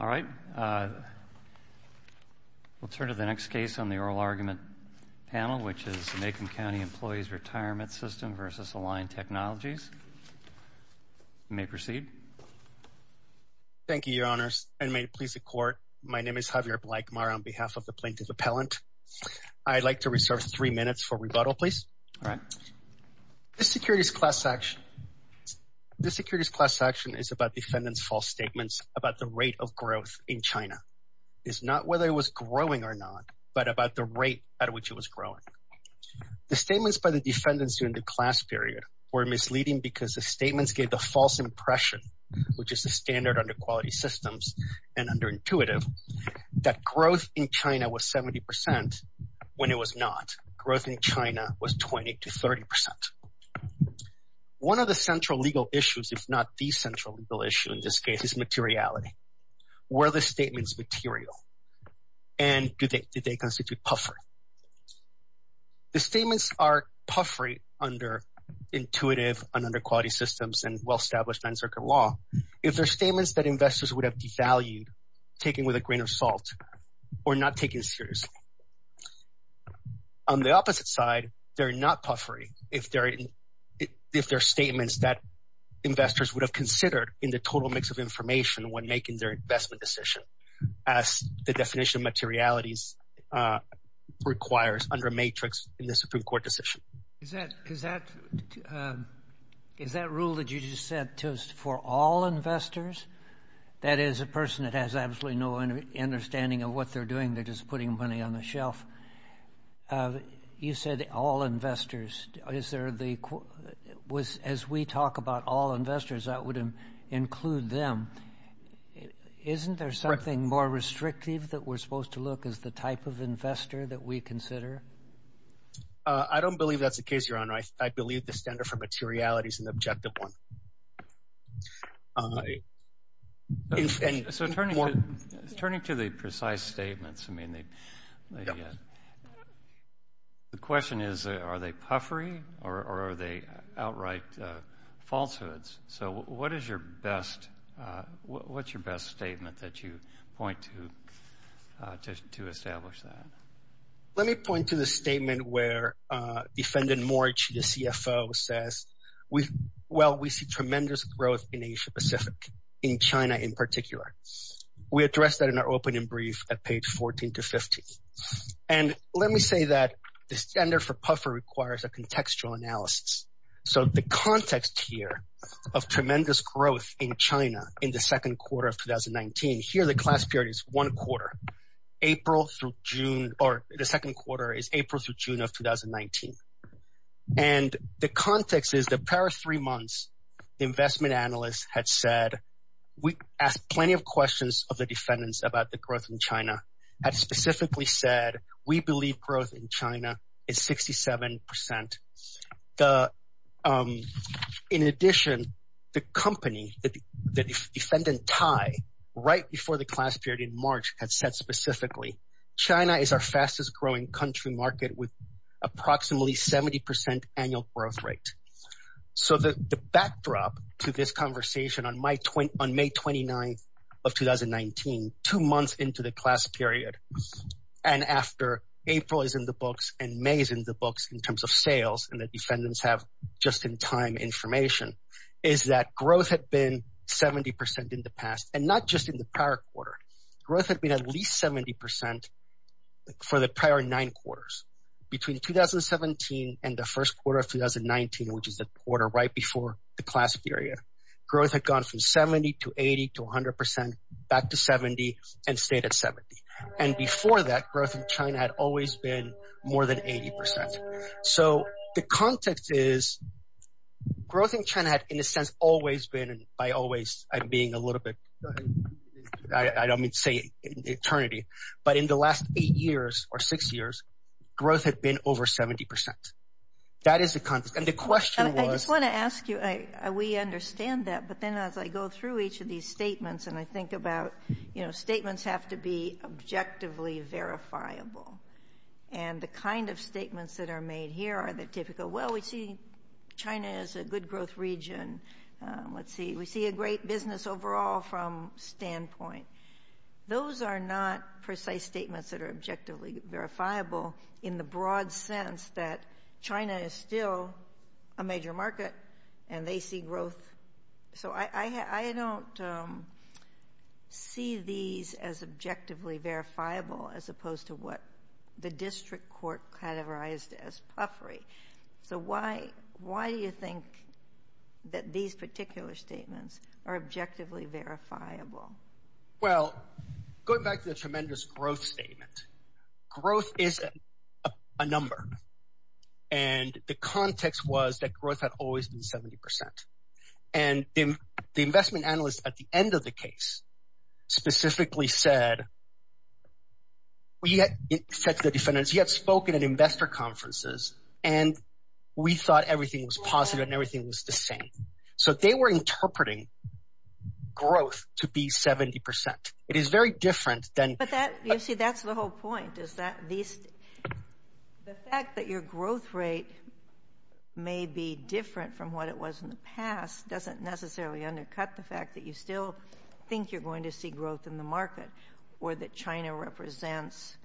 All right, we'll turn to the next case on the oral argument panel, which is the Macomb County Employees Retirement System v. Align Technologies. You may proceed. Thank you, Your Honors, and may it please the Court, my name is Javier Blakmar on behalf of the Plaintiff Appellant. I'd like to reserve three minutes for rebuttal, please. All right. This securities class action is about defendants' false statements about the rate of growth in China. It's not whether it was growing or not, but about the rate at which it was growing. The statements by the defendants during the class period were misleading because the statements gave the false impression, which is the standard under quality systems and under intuitive, that growth in China was 70% when it was not. Growth in China was 20 to 30%. One of the central legal issues, if not the central legal issue in this case, is materiality. Were the statements material? And did they constitute puffery? The statements are puffery under intuitive and under quality systems and well-established non-circuit law. If they're statements that investors would have devalued, taken with a grain of salt, or not taken seriously. On the opposite side, they're not puffery if they're statements that investors would have considered in the total mix of information when making their investment decision, as the definition of materialities requires under matrix in the Supreme Court decision. Is that rule that you just said for all investors? That is, a person that has absolutely no understanding of what they're doing. They're just putting money on the shelf. You said all investors. As we talk about all investors, that would include them. Isn't there something more restrictive that we're supposed to look as the type of investor that we consider? I don't believe that's the case, Your Honor. I believe the standard for materiality is an objective one. Turning to the precise statements, the question is, are they puffery or are they outright falsehoods? What's your best statement that you point to establish that? Let me point to the statement where defendant Moriichi, the CFO, says, well, we see tremendous growth in Asia Pacific, in China in particular. We addressed that in our opening brief at page 14 to 15. Let me say that the standard for puffer requires a contextual analysis. The context here of tremendous growth in China in the second quarter of 2019, here the class period is one quarter. The second quarter is April through June of 2019. The context is the past three months, the investment analysts had said, we asked plenty of questions of the defendants about the growth in China, had specifically said, we believe growth in had said specifically, China is our fastest growing country market with approximately 70% annual growth rate. The backdrop to this conversation on May 29th of 2019, two months into the class period, and after April is in the books and May is in the books in terms of sales, and the defendants have just-in-time information, is that growth had been 70% in the past, and not just in the prior quarter. Growth had been at least 70% for the prior nine quarters. Between 2017 and the first quarter of 2019, which is the quarter right before the class period, growth had gone from 70% to 80% to 100% back to 70% and stayed at 70%. And before that, growth in China had always been more than 80%. So the context is growth in China had, in a sense, always been, and by always, I'm being a little bit, I don't mean to say eternity, but in the last eight years or six years, growth had been over 70%. That is the context. And the question was- I just want to ask you, we understand that, but then as I go through each of these statements, and I think about, you know, statements have to be objectively verifiable. And the kind of statements that are made here are the typical, well, we see China as a good growth region. Let's see, we see a great business overall from standpoint. Those are not precise statements that are objectively verifiable in the broad sense that China is still a major market, and they see growth. So I don't see these as objectively verifiable as opposed to what the district court categorized as puffery. So why do you think that these particular statements are objectively verifiable? Well, going back to the tremendous growth statement, growth is a number. And the context was that growth had always been 70%. And the said to the defendants, he had spoken at investor conferences, and we thought everything was positive and everything was the same. So they were interpreting growth to be 70%. It is very different than- But that, you see, that's the whole point, is that the fact that your growth rate may be different from what it was in the past doesn't necessarily undercut the fact that you still think you're going to see growth in the market or that China represents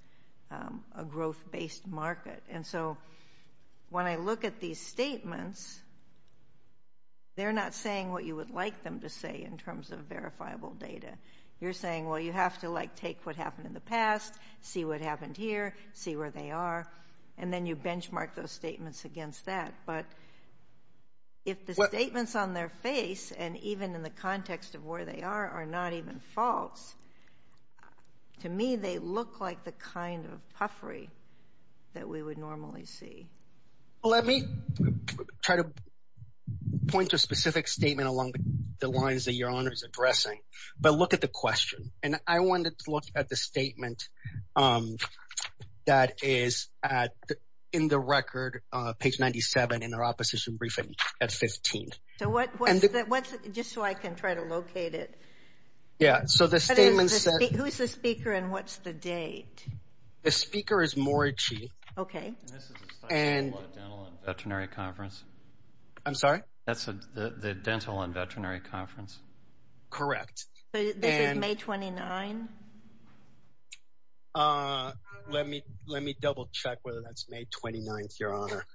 a growth-based market. And so when I look at these statements, they're not saying what you would like them to say in terms of verifiable data. You're saying, well, you have to like take what happened in the past, see what happened here, see where they are, and then you benchmark those statements against that. But if the To me, they look like the kind of puffery that we would normally see. Let me try to point to a specific statement along the lines that your Honor is addressing. But look at the question. And I wanted to look at the statement that is in the record, page 97, in our opposition briefing at 15. So what's- Just so I can try to locate it. Yeah, so the statement said- Who's the speaker and what's the date? The speaker is Morichi. Okay. And this is a study from the Dental and Veterinary Conference. I'm sorry? That's the Dental and Veterinary Conference. Correct. This is May 29? Let me double check whether that's May 29th, Your Honor.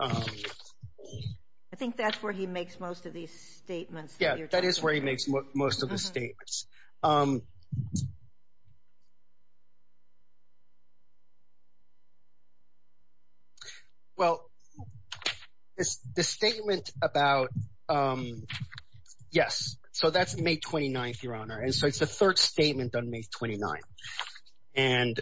I think that's where he makes most of these statements. Yeah, that is where he makes most of the statements. Well, the statement about- Yes, so that's May 29th, Your Honor. And so it's the third statement on May 29th. And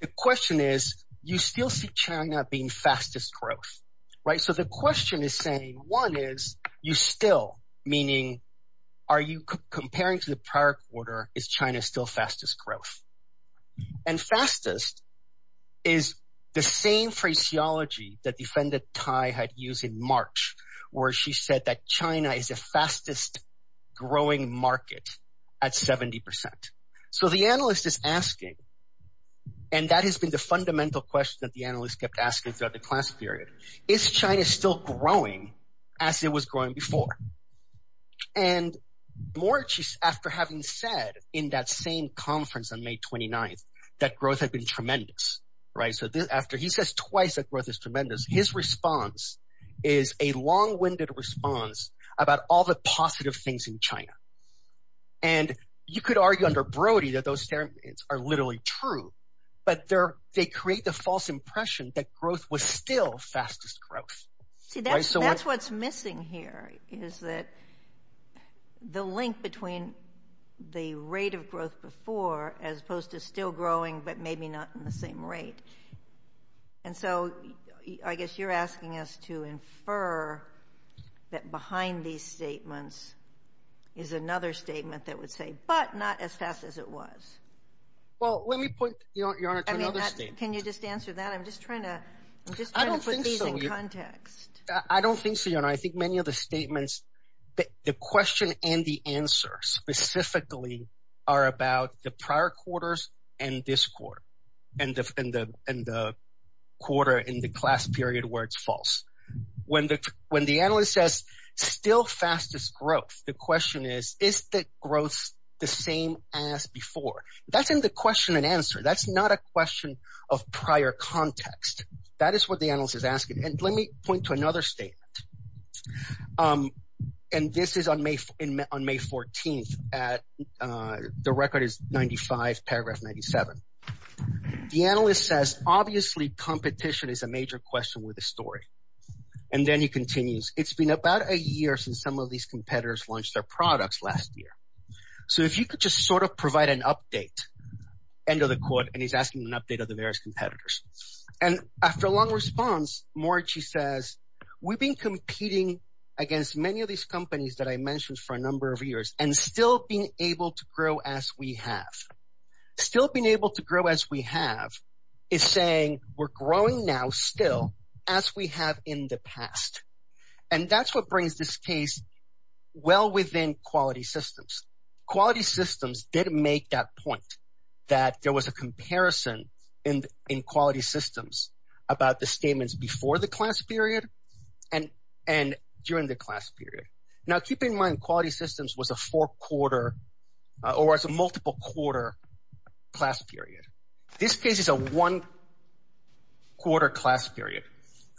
the question is, you still see China being fastest growth, right? So the question is saying, one is, you still, meaning, are you comparing to the prior quarter, is China still fastest growth? And fastest is the same phraseology that defendant Tai had used in March, where she said that China is the fastest growing market at 70%. So the analyst is asking, and that has been the fundamental question that the analyst kept asking throughout the class period, is China still growing as it was growing before? And March, after having said in that same conference on May 29th, that growth had been tremendous, right? So after, he says twice that growth is tremendous. His response is a long-winded response about all the positive things in China. And you could argue under Brody that those statements are literally true, but they create the false impression that growth was still fastest growth. See, that's what's missing here, is that the link between the rate of growth before, as opposed to still growing, but maybe not in the same rate. And so I guess you're asking us to infer that behind these statements is another statement that would say, but not as fast as it was. Well, let me point, Your Honor, to another statement. Can you just answer that? I'm just trying to put these in context. I don't think so, Your Honor. I think many of the statements, the question and the answer specifically are about the prior quarters and this quarter, and the quarter in the class period where it's false. When the analyst says still fastest growth, the question is, is the growth the same as before? That's in the question and answer. That's not a question of prior context. That is what the analyst is asking. And let me point to another statement. And this is on May 14th. The record is 95, paragraph 97. The analyst says, obviously, competition is a major question with this story. And then he continues, it's been about a year since some of these competitors launched their And he's asking an update of the various competitors. And after a long response, Morici says, we've been competing against many of these companies that I mentioned for a number of years and still being able to grow as we have. Still being able to grow as we have is saying we're growing now still as we have in the past. And that's what brings this case well within quality systems. Quality systems did make that point that there was a comparison in quality systems about the statements before the class period and during the class period. Now, keep in mind, quality systems was a four quarter or as a multiple quarter class period. This case is a one quarter class period.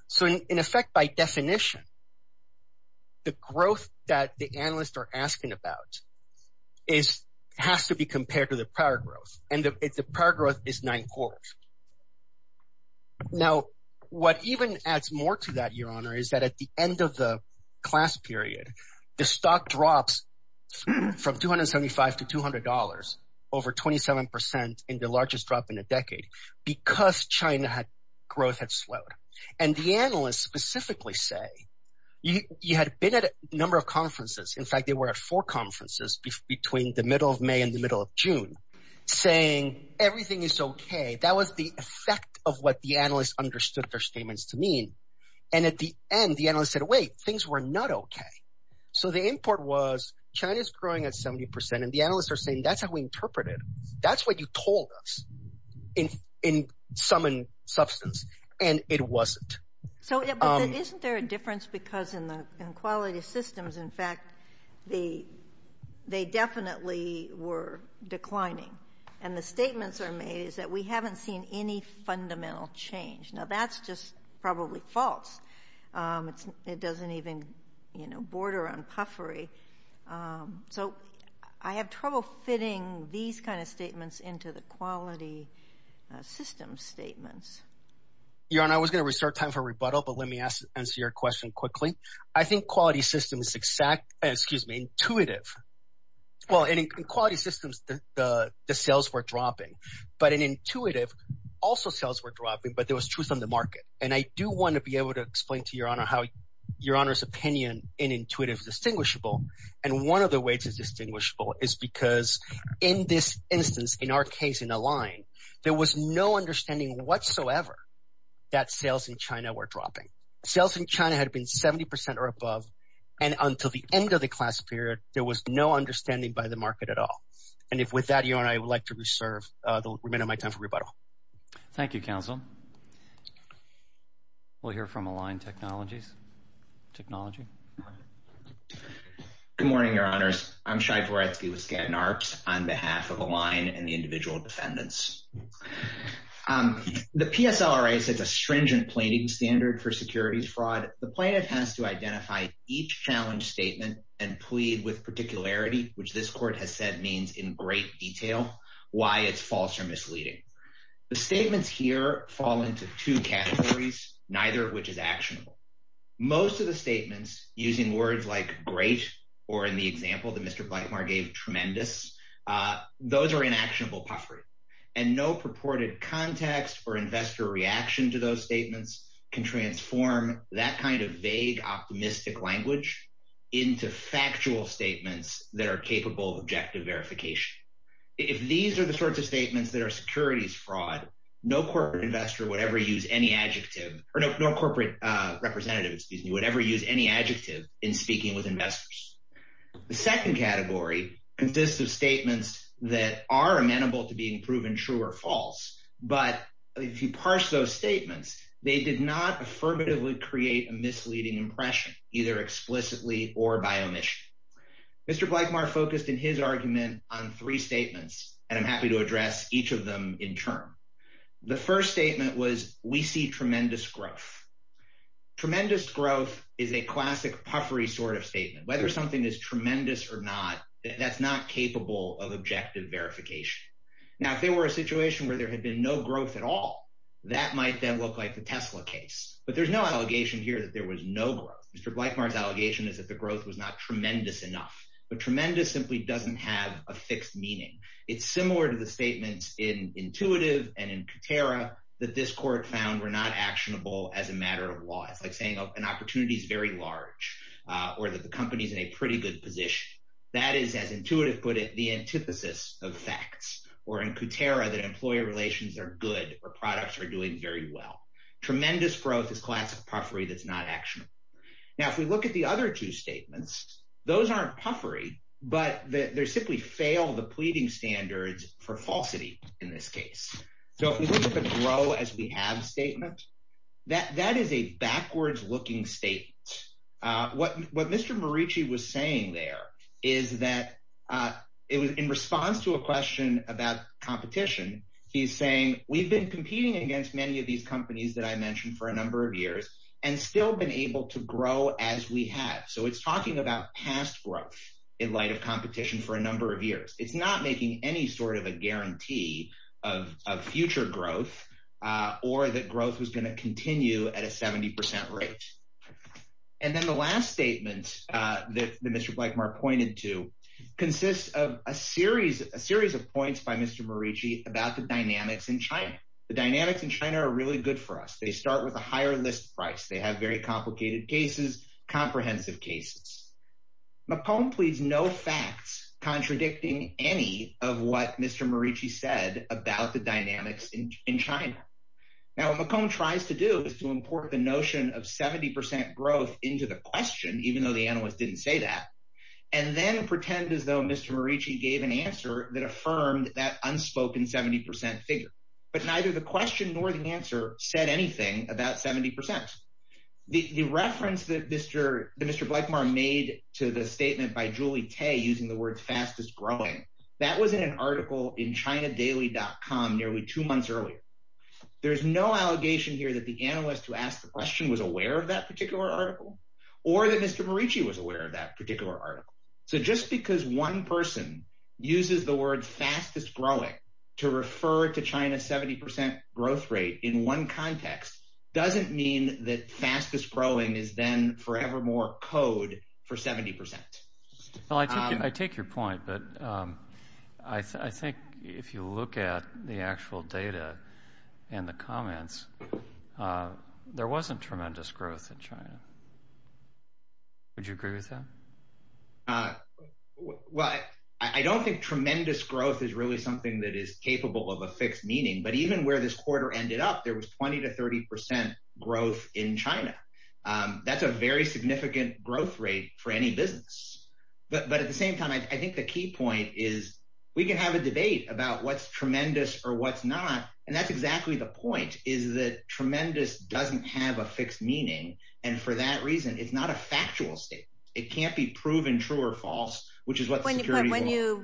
So in effect, by definition, the growth that the analysts are asking about is has to be compared to the prior growth, and the prior growth is nine quarters. Now, what even adds more to that, Your Honor, is that at the end of the class period, the stock drops from 275 to $200 over 27% in the largest drop in a decade, because China had growth had slowed. And the analysts specifically say, you had been at a number of conferences. In fact, they were at four conferences between the middle of May and the middle of June, saying everything is okay. That was the effect of what the analysts understood their statements to mean. And at the end, the analyst said, wait, things were not okay. So the import was China's growing at 70%. And the analysts are saying, that's how we interpret it. That's what you told us in sum and substance. And it wasn't. So isn't there a difference? Because in the quality systems, in fact, they definitely were declining. And the statements are made is that we haven't seen any fundamental change. Now, that's probably false. It doesn't even, you know, border on puffery. So I have trouble fitting these kind of statements into the quality systems statements. Your Honor, I was going to restart time for rebuttal. But let me answer your question quickly. I think quality systems, excuse me, intuitive. Well, in quality systems, the sales were dropping. But in intuitive, also sales were dropping, but there was truth on the market. And I do want to be able to explain to Your Honor how Your Honor's opinion in intuitive distinguishable. And one of the ways is distinguishable is because in this instance, in our case, in a line, there was no understanding whatsoever that sales in China were dropping. Sales in China had been 70% or above. And until the end of the class period, there was no understanding by the market at all. And if with that, Your Honor, I would like to reserve the remainder of my time for rebuttal. Thank you, counsel. We'll hear from Align Technologies. Technology. Good morning, Your Honors. I'm Shai Goretsky with Skadden Arps on behalf of Align and the individual defendants. The PSLRA sets a stringent plating standard for securities fraud. The plaintiff has to identify each challenge statement and plead with particularity, which this court has said means in great detail why it's false or misleading. The statements here fall into two categories, neither of which is actionable. Most of the statements using words like great, or in the example that Mr. Blackmore gave, tremendous, those are inactionable puffery. And no purported context or investor reaction to those statements can transform that kind of vague, optimistic language into factual statements that are capable of objective verification. If these are the sorts of statements that are securities fraud, no corporate investor would ever use any adjective, or no corporate representative, excuse me, would ever use any adjective in speaking with investors. The second category consists of statements that are amenable to being proven true or false. But if you parse those statements, they did not affirmatively create a misleading impression, either explicitly or by omission. Mr. Blackmore focused in his argument on three statements, and I'm happy to address each of them in turn. The first statement was, we see tremendous growth. Tremendous growth is a classic puffery sort of statement. Whether something is tremendous or not, that's not capable of objective verification. Now, if there were a situation where there had been no growth at all, that might then look like the Tesla case. But there's no allegation here that there was no growth. Mr. Blackmore's allegation is that the growth was not tremendous enough. But tremendous simply doesn't have a fixed meaning. It's similar to the statements in Intuitive and in Kutera that this court found were not actionable as a matter of law. It's like saying an opportunity is very large, or that the company's in a pretty good position. That is, as Intuitive put it, the antithesis of facts. Or in Kutera, that employer relations are good, or products are doing very well. Tremendous growth is classic puffery that's not actionable. Now, if we look at the other two statements, those aren't puffery, but they simply fail the pleading standards for falsity in this case. So if we look at the grow as we have statement, that is a backwards-looking statement. What Mr. Morici was saying there is that in response to a question about competition, he's saying we've been competing against many of these companies that I mentioned for a number of years and still been able to grow as we have. So it's talking about past growth in light of competition for a number of years. It's not making any sort of a guarantee of future growth or that growth was going to continue at a 70% rate. And then the last statement that Mr. Blackmore pointed to consists of a series of points by Mr. Morici about the dynamics in China. The dynamics in China are really good for us. They start with a higher list price. They have very complicated cases, comprehensive cases. McComb pleads no facts contradicting any of what Mr. Morici said about the dynamics in China. Now, what McComb tries to do is to import the notion of 70% growth into the question, even though the analysts didn't say that, and then pretend as though Mr. Morici gave an answer that affirmed that unspoken 70% figure. But neither the question nor the answer said anything about 70%. The reference that Mr. Blackmore made to the statement by Julie Tay using the word fastest growing, that was in an article in Chinadaily.com nearly two months earlier. There's no allegation here that the analyst who asked the question was aware of that particular article, or that Mr. Morici was aware of that particular article. So just because one person uses the word fastest growing to refer to China's 70% growth rate in one context doesn't mean that fastest growing is then forevermore code for 70%. Well, I take your point, but I think if you look at the actual data and the comments, there wasn't tremendous growth in China. Would you agree with that? Well, I don't think tremendous growth is really something that is capable of a fixed meaning, but even where this quarter ended up, there was 20 to 30% growth in China. That's a very good point. But at the same time, I think the key point is we can have a debate about what's tremendous or what's not. And that's exactly the point, is that tremendous doesn't have a fixed meaning. And for that reason, it's not a factual statement. It can't be proven true or false, which is what the security law requires. When you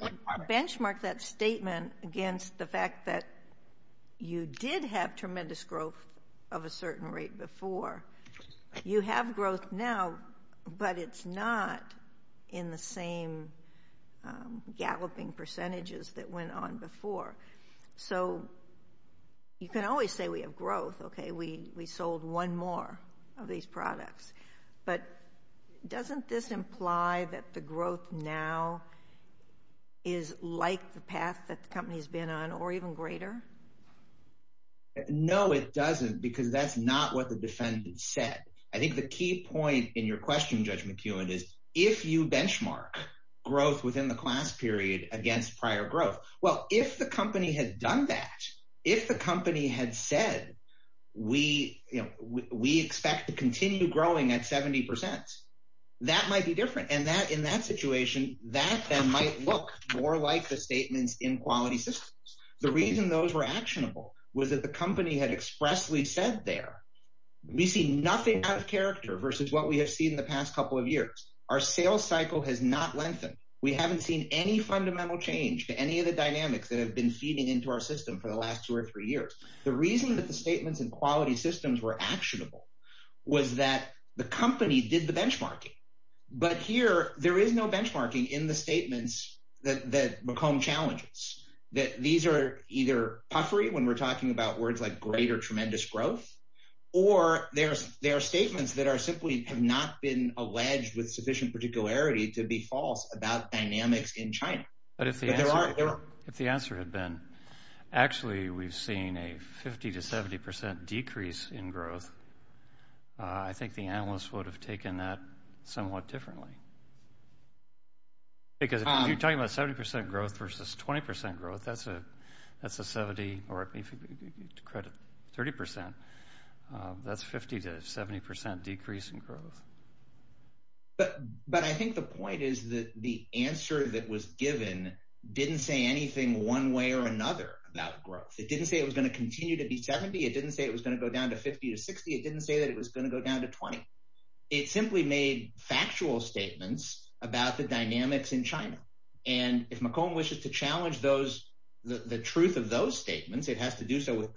benchmark that statement against the fact that you did have tremendous growth of a certain rate before, you have growth now, but it's not in the same galloping percentages that went on before. So you can always say we have growth, okay? We sold one more of these products. But doesn't this imply that the growth now is like the path that the company has been on or even greater? No, it doesn't, because that's not what the defendant said. I think the key point in your benchmark, growth within the class period against prior growth, well, if the company had done that, if the company had said, we expect to continue growing at 70%, that might be different. And in that situation, that then might look more like the statements in quality systems. The reason those were actionable was that the company had expressly said there, we see nothing out of cycle has not lengthened. We haven't seen any fundamental change to any of the dynamics that have been feeding into our system for the last two or three years. The reason that the statements in quality systems were actionable was that the company did the benchmarking. But here, there is no benchmarking in the statements that McComb challenges, that these are either puffery when we're talking about words like greater tremendous growth, or there are statements that are simply have not been alleged with sufficient particularity to be false about dynamics in China. But if the answer had been, actually, we've seen a 50 to 70% decrease in growth, I think the analysts would have taken that somewhat differently. Because if you're talking about 70% growth versus 20% growth, that's a 70 or credit 30%. That's 50 to 70% decrease in growth. But I think the point is that the answer that was given didn't say anything one way or another about growth. It didn't say it was going to continue to be 70. It didn't say it was going to go down to 50 to 60. It didn't say that it was going to go down to 20. It simply made factual statements about the dynamics in China. And if McComb wishes to challenge the truth of those statements, it has to do so with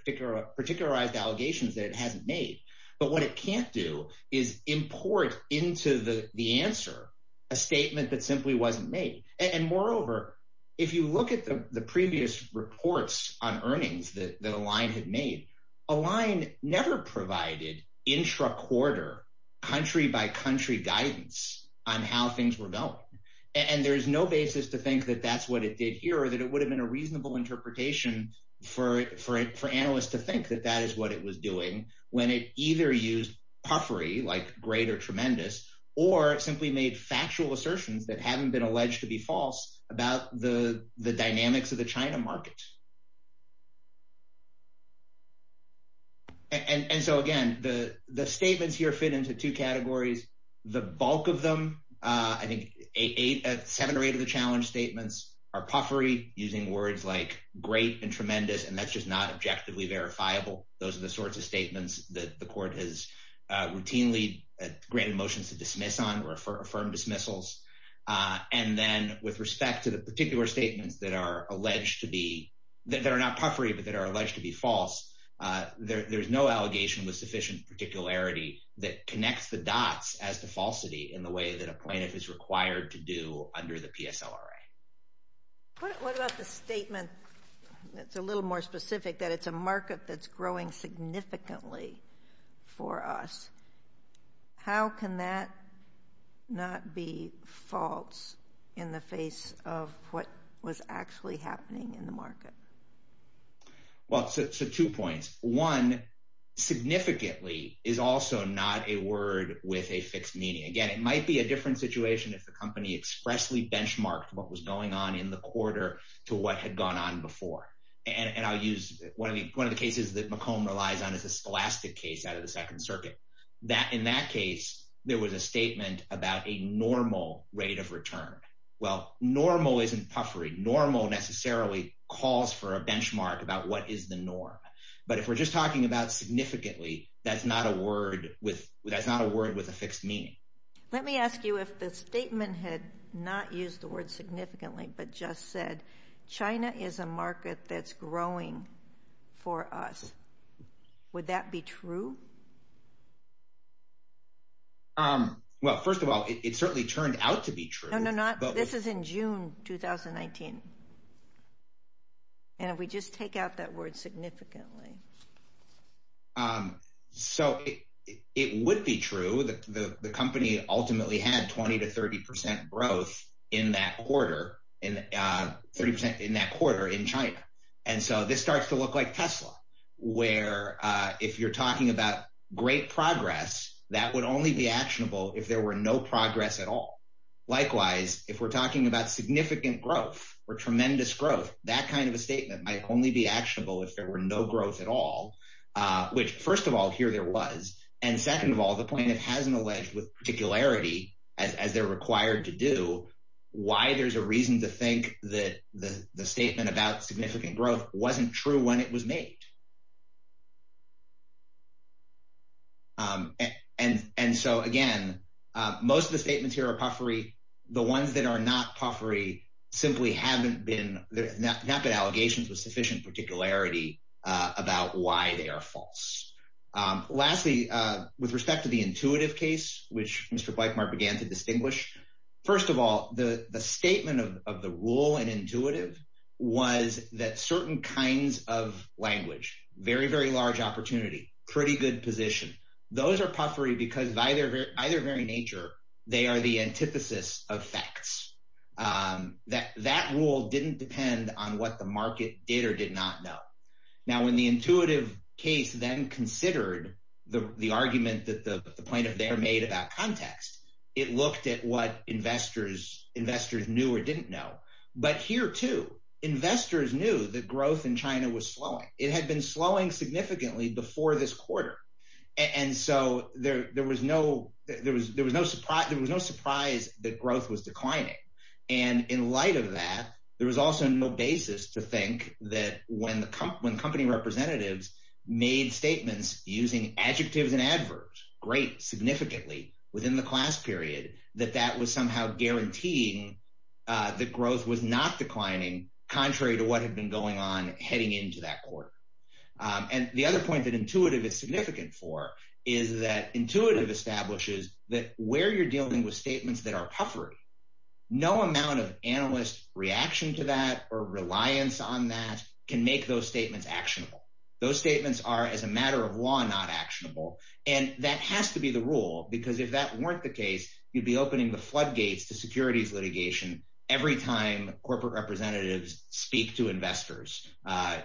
particularized allegations that it hasn't made. But what it can't do is import into the answer a statement that simply wasn't made. And moreover, if you look at the previous reports on earnings that Align had made, Align never provided intra-quarter, country by country guidance on how things were going. And there's no basis to think that that's what it did here or that it would have been a was doing when it either used puffery like great or tremendous, or simply made factual assertions that haven't been alleged to be false about the dynamics of the China market. And so again, the statements here fit into two categories. The bulk of them, I think seven or eight of the challenge statements are puffery using words like great and tremendous, and that's just not objectively verifiable. Those are the sorts of statements that the court has routinely granted motions to dismiss on or affirm dismissals. And then with respect to the particular statements that are alleged to be, that are not puffery, but that are alleged to be false, there's no allegation with sufficient particularity that connects the dots as to falsity in the way that a plaintiff is required to do under the PSLRA. What about the statement that's a little more specific that it's a market that's growing significantly for us? How can that not be false in the face of what was actually happening in the market? Well, so two points. One, significantly is also not a word with a fixed meaning. Again, it might be a different situation if the company expressly benchmarked what was going on in the quarter to what had gone on before. And I'll use one of the cases that McComb relies on as a scholastic case out of the second circuit. In that case, there was a statement about a normal rate of return. Well, normal isn't puffery. Normal necessarily calls for a benchmark about what is the norm. But if we're just talking about significantly, that's not a word with a fixed meaning. Let me ask you if the statement had not used the word significantly, but just said China is a market that's growing for us. Would that be true? Well, first of all, it certainly turned out to be true. No, not this is in June 2019. And if we just take out that word significantly. So it would be true that the company ultimately had 20 to 30 percent growth in that quarter in 30 percent in that quarter in China. And so this starts to look like Tesla, where if you're talking about great progress, that would only be actionable if there were no progress at all. Likewise, if we're talking about significant growth or tremendous growth, that kind of a statement might only be actionable if there were no growth at all, which, first of all, here there was. And second of all, the point it hasn't alleged with particularity as they're required to do, why there's a reason to think that the statement about significant growth wasn't true when it was made. And so, again, most of the statements here are puffery. The ones that are not puffery simply haven't been there's not been allegations with sufficient particularity about why they are false. Lastly, with respect to the intuitive case, which Mr. Blakemar began to distinguish. First of all, the statement of the rule and intuitive was that certain kinds of language very, very large opportunity, pretty good position. Those are puffery because by their very nature, they are the antithesis of facts that that rule didn't depend on what the market did or did not know. Now, when the intuitive case then considered the argument that the point of there made about context, it looked at what investors, investors knew or didn't know. But here, too, investors knew that growth in China was slowing. It had been slowing significantly before this quarter. And so there was no surprise that growth was declining. And in light of that, there was also no basis to think that when the company representatives made statements using adjectives and adverbs, great significantly within the class period, that that was somehow guaranteeing that growth was not declining, contrary to what had been going on heading into that quarter. And the other point that intuitive is significant for is that intuitive establishes that where you're dealing with statements that are puffery, no amount of analyst reaction to that or reliance on that can make those statements actionable. Those statements are as a matter of law, not actionable. And that has to be the rule, because if that weren't the case, you'd be opening the floodgates to securities litigation every time corporate representatives speak to investors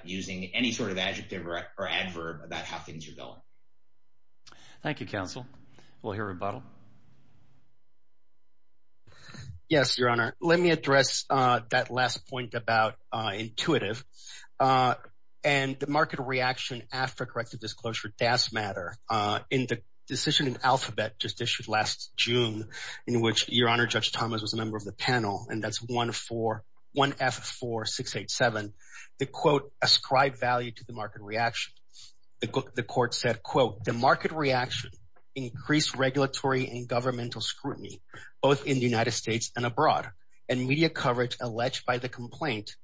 using any sort of adjective or adverb about how things are going. Thank you, counsel. We'll hear rebuttal. Yes, Your Honor, let me address that last point about intuitive and the market reaction after corrective disclosure does matter. In the decision in Alphabet just issued last June, in which Your Honor, Judge Thomas was a member of the panel, and that's 1-F-4-6-8-7, the quote ascribed value to the market reaction. The court said, quote, the market reaction increased regulatory and governmental scrutiny, both in the United States and abroad, and media coverage alleged by the complaint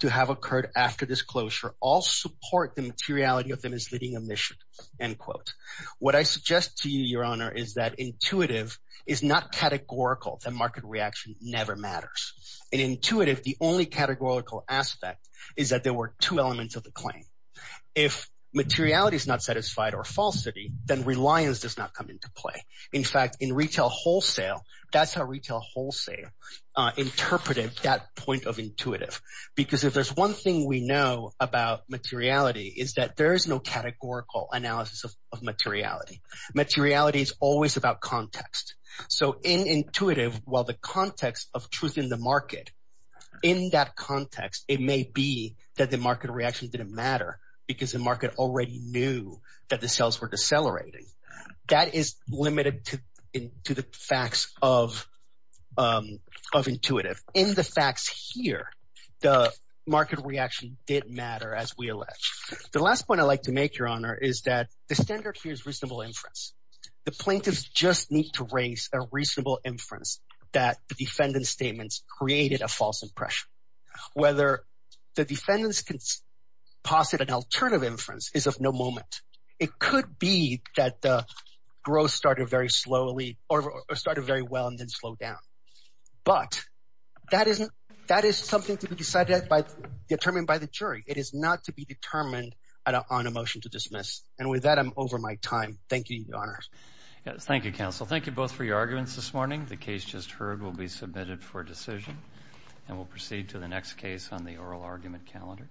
to have occurred after disclosure all support the materiality of the misleading omission, end quote. What I suggest to you, Your Honor, is that intuitive is not categorical. The market reaction never matters. In intuitive, the only categorical aspect is that there were two elements of the claim. If materiality is not satisfied or falsity, then reliance does not come into play. In fact, in retail wholesale, that's how retail wholesale interpreted that point of intuitive. Because if there's one thing we know about materiality is that there is no categorical analysis of materiality. Materiality is always about context. So in intuitive, while the context of truth in the market, in that context, it may be that the market reaction didn't matter because the market already knew that the sales were decelerating. That is limited to the facts of intuitive. In the facts here, the market reaction did matter as we allege. The last point I'd like to make, Your Honor, is that the standard here is reasonable inference. The plaintiffs just need to raise a reasonable inference that the defendant's statements created a false impression. Whether the defendants can posit an alternative inference is of no moment. It could be that the started very well and then slowed down. But that is something to be decided by, determined by the jury. It is not to be determined on a motion to dismiss. And with that, I'm over my time. Thank you, Your Honor. Thank you, counsel. Thank you both for your arguments this morning. The case just heard will be submitted for decision, and we'll proceed to the next case on the oral argument calendar.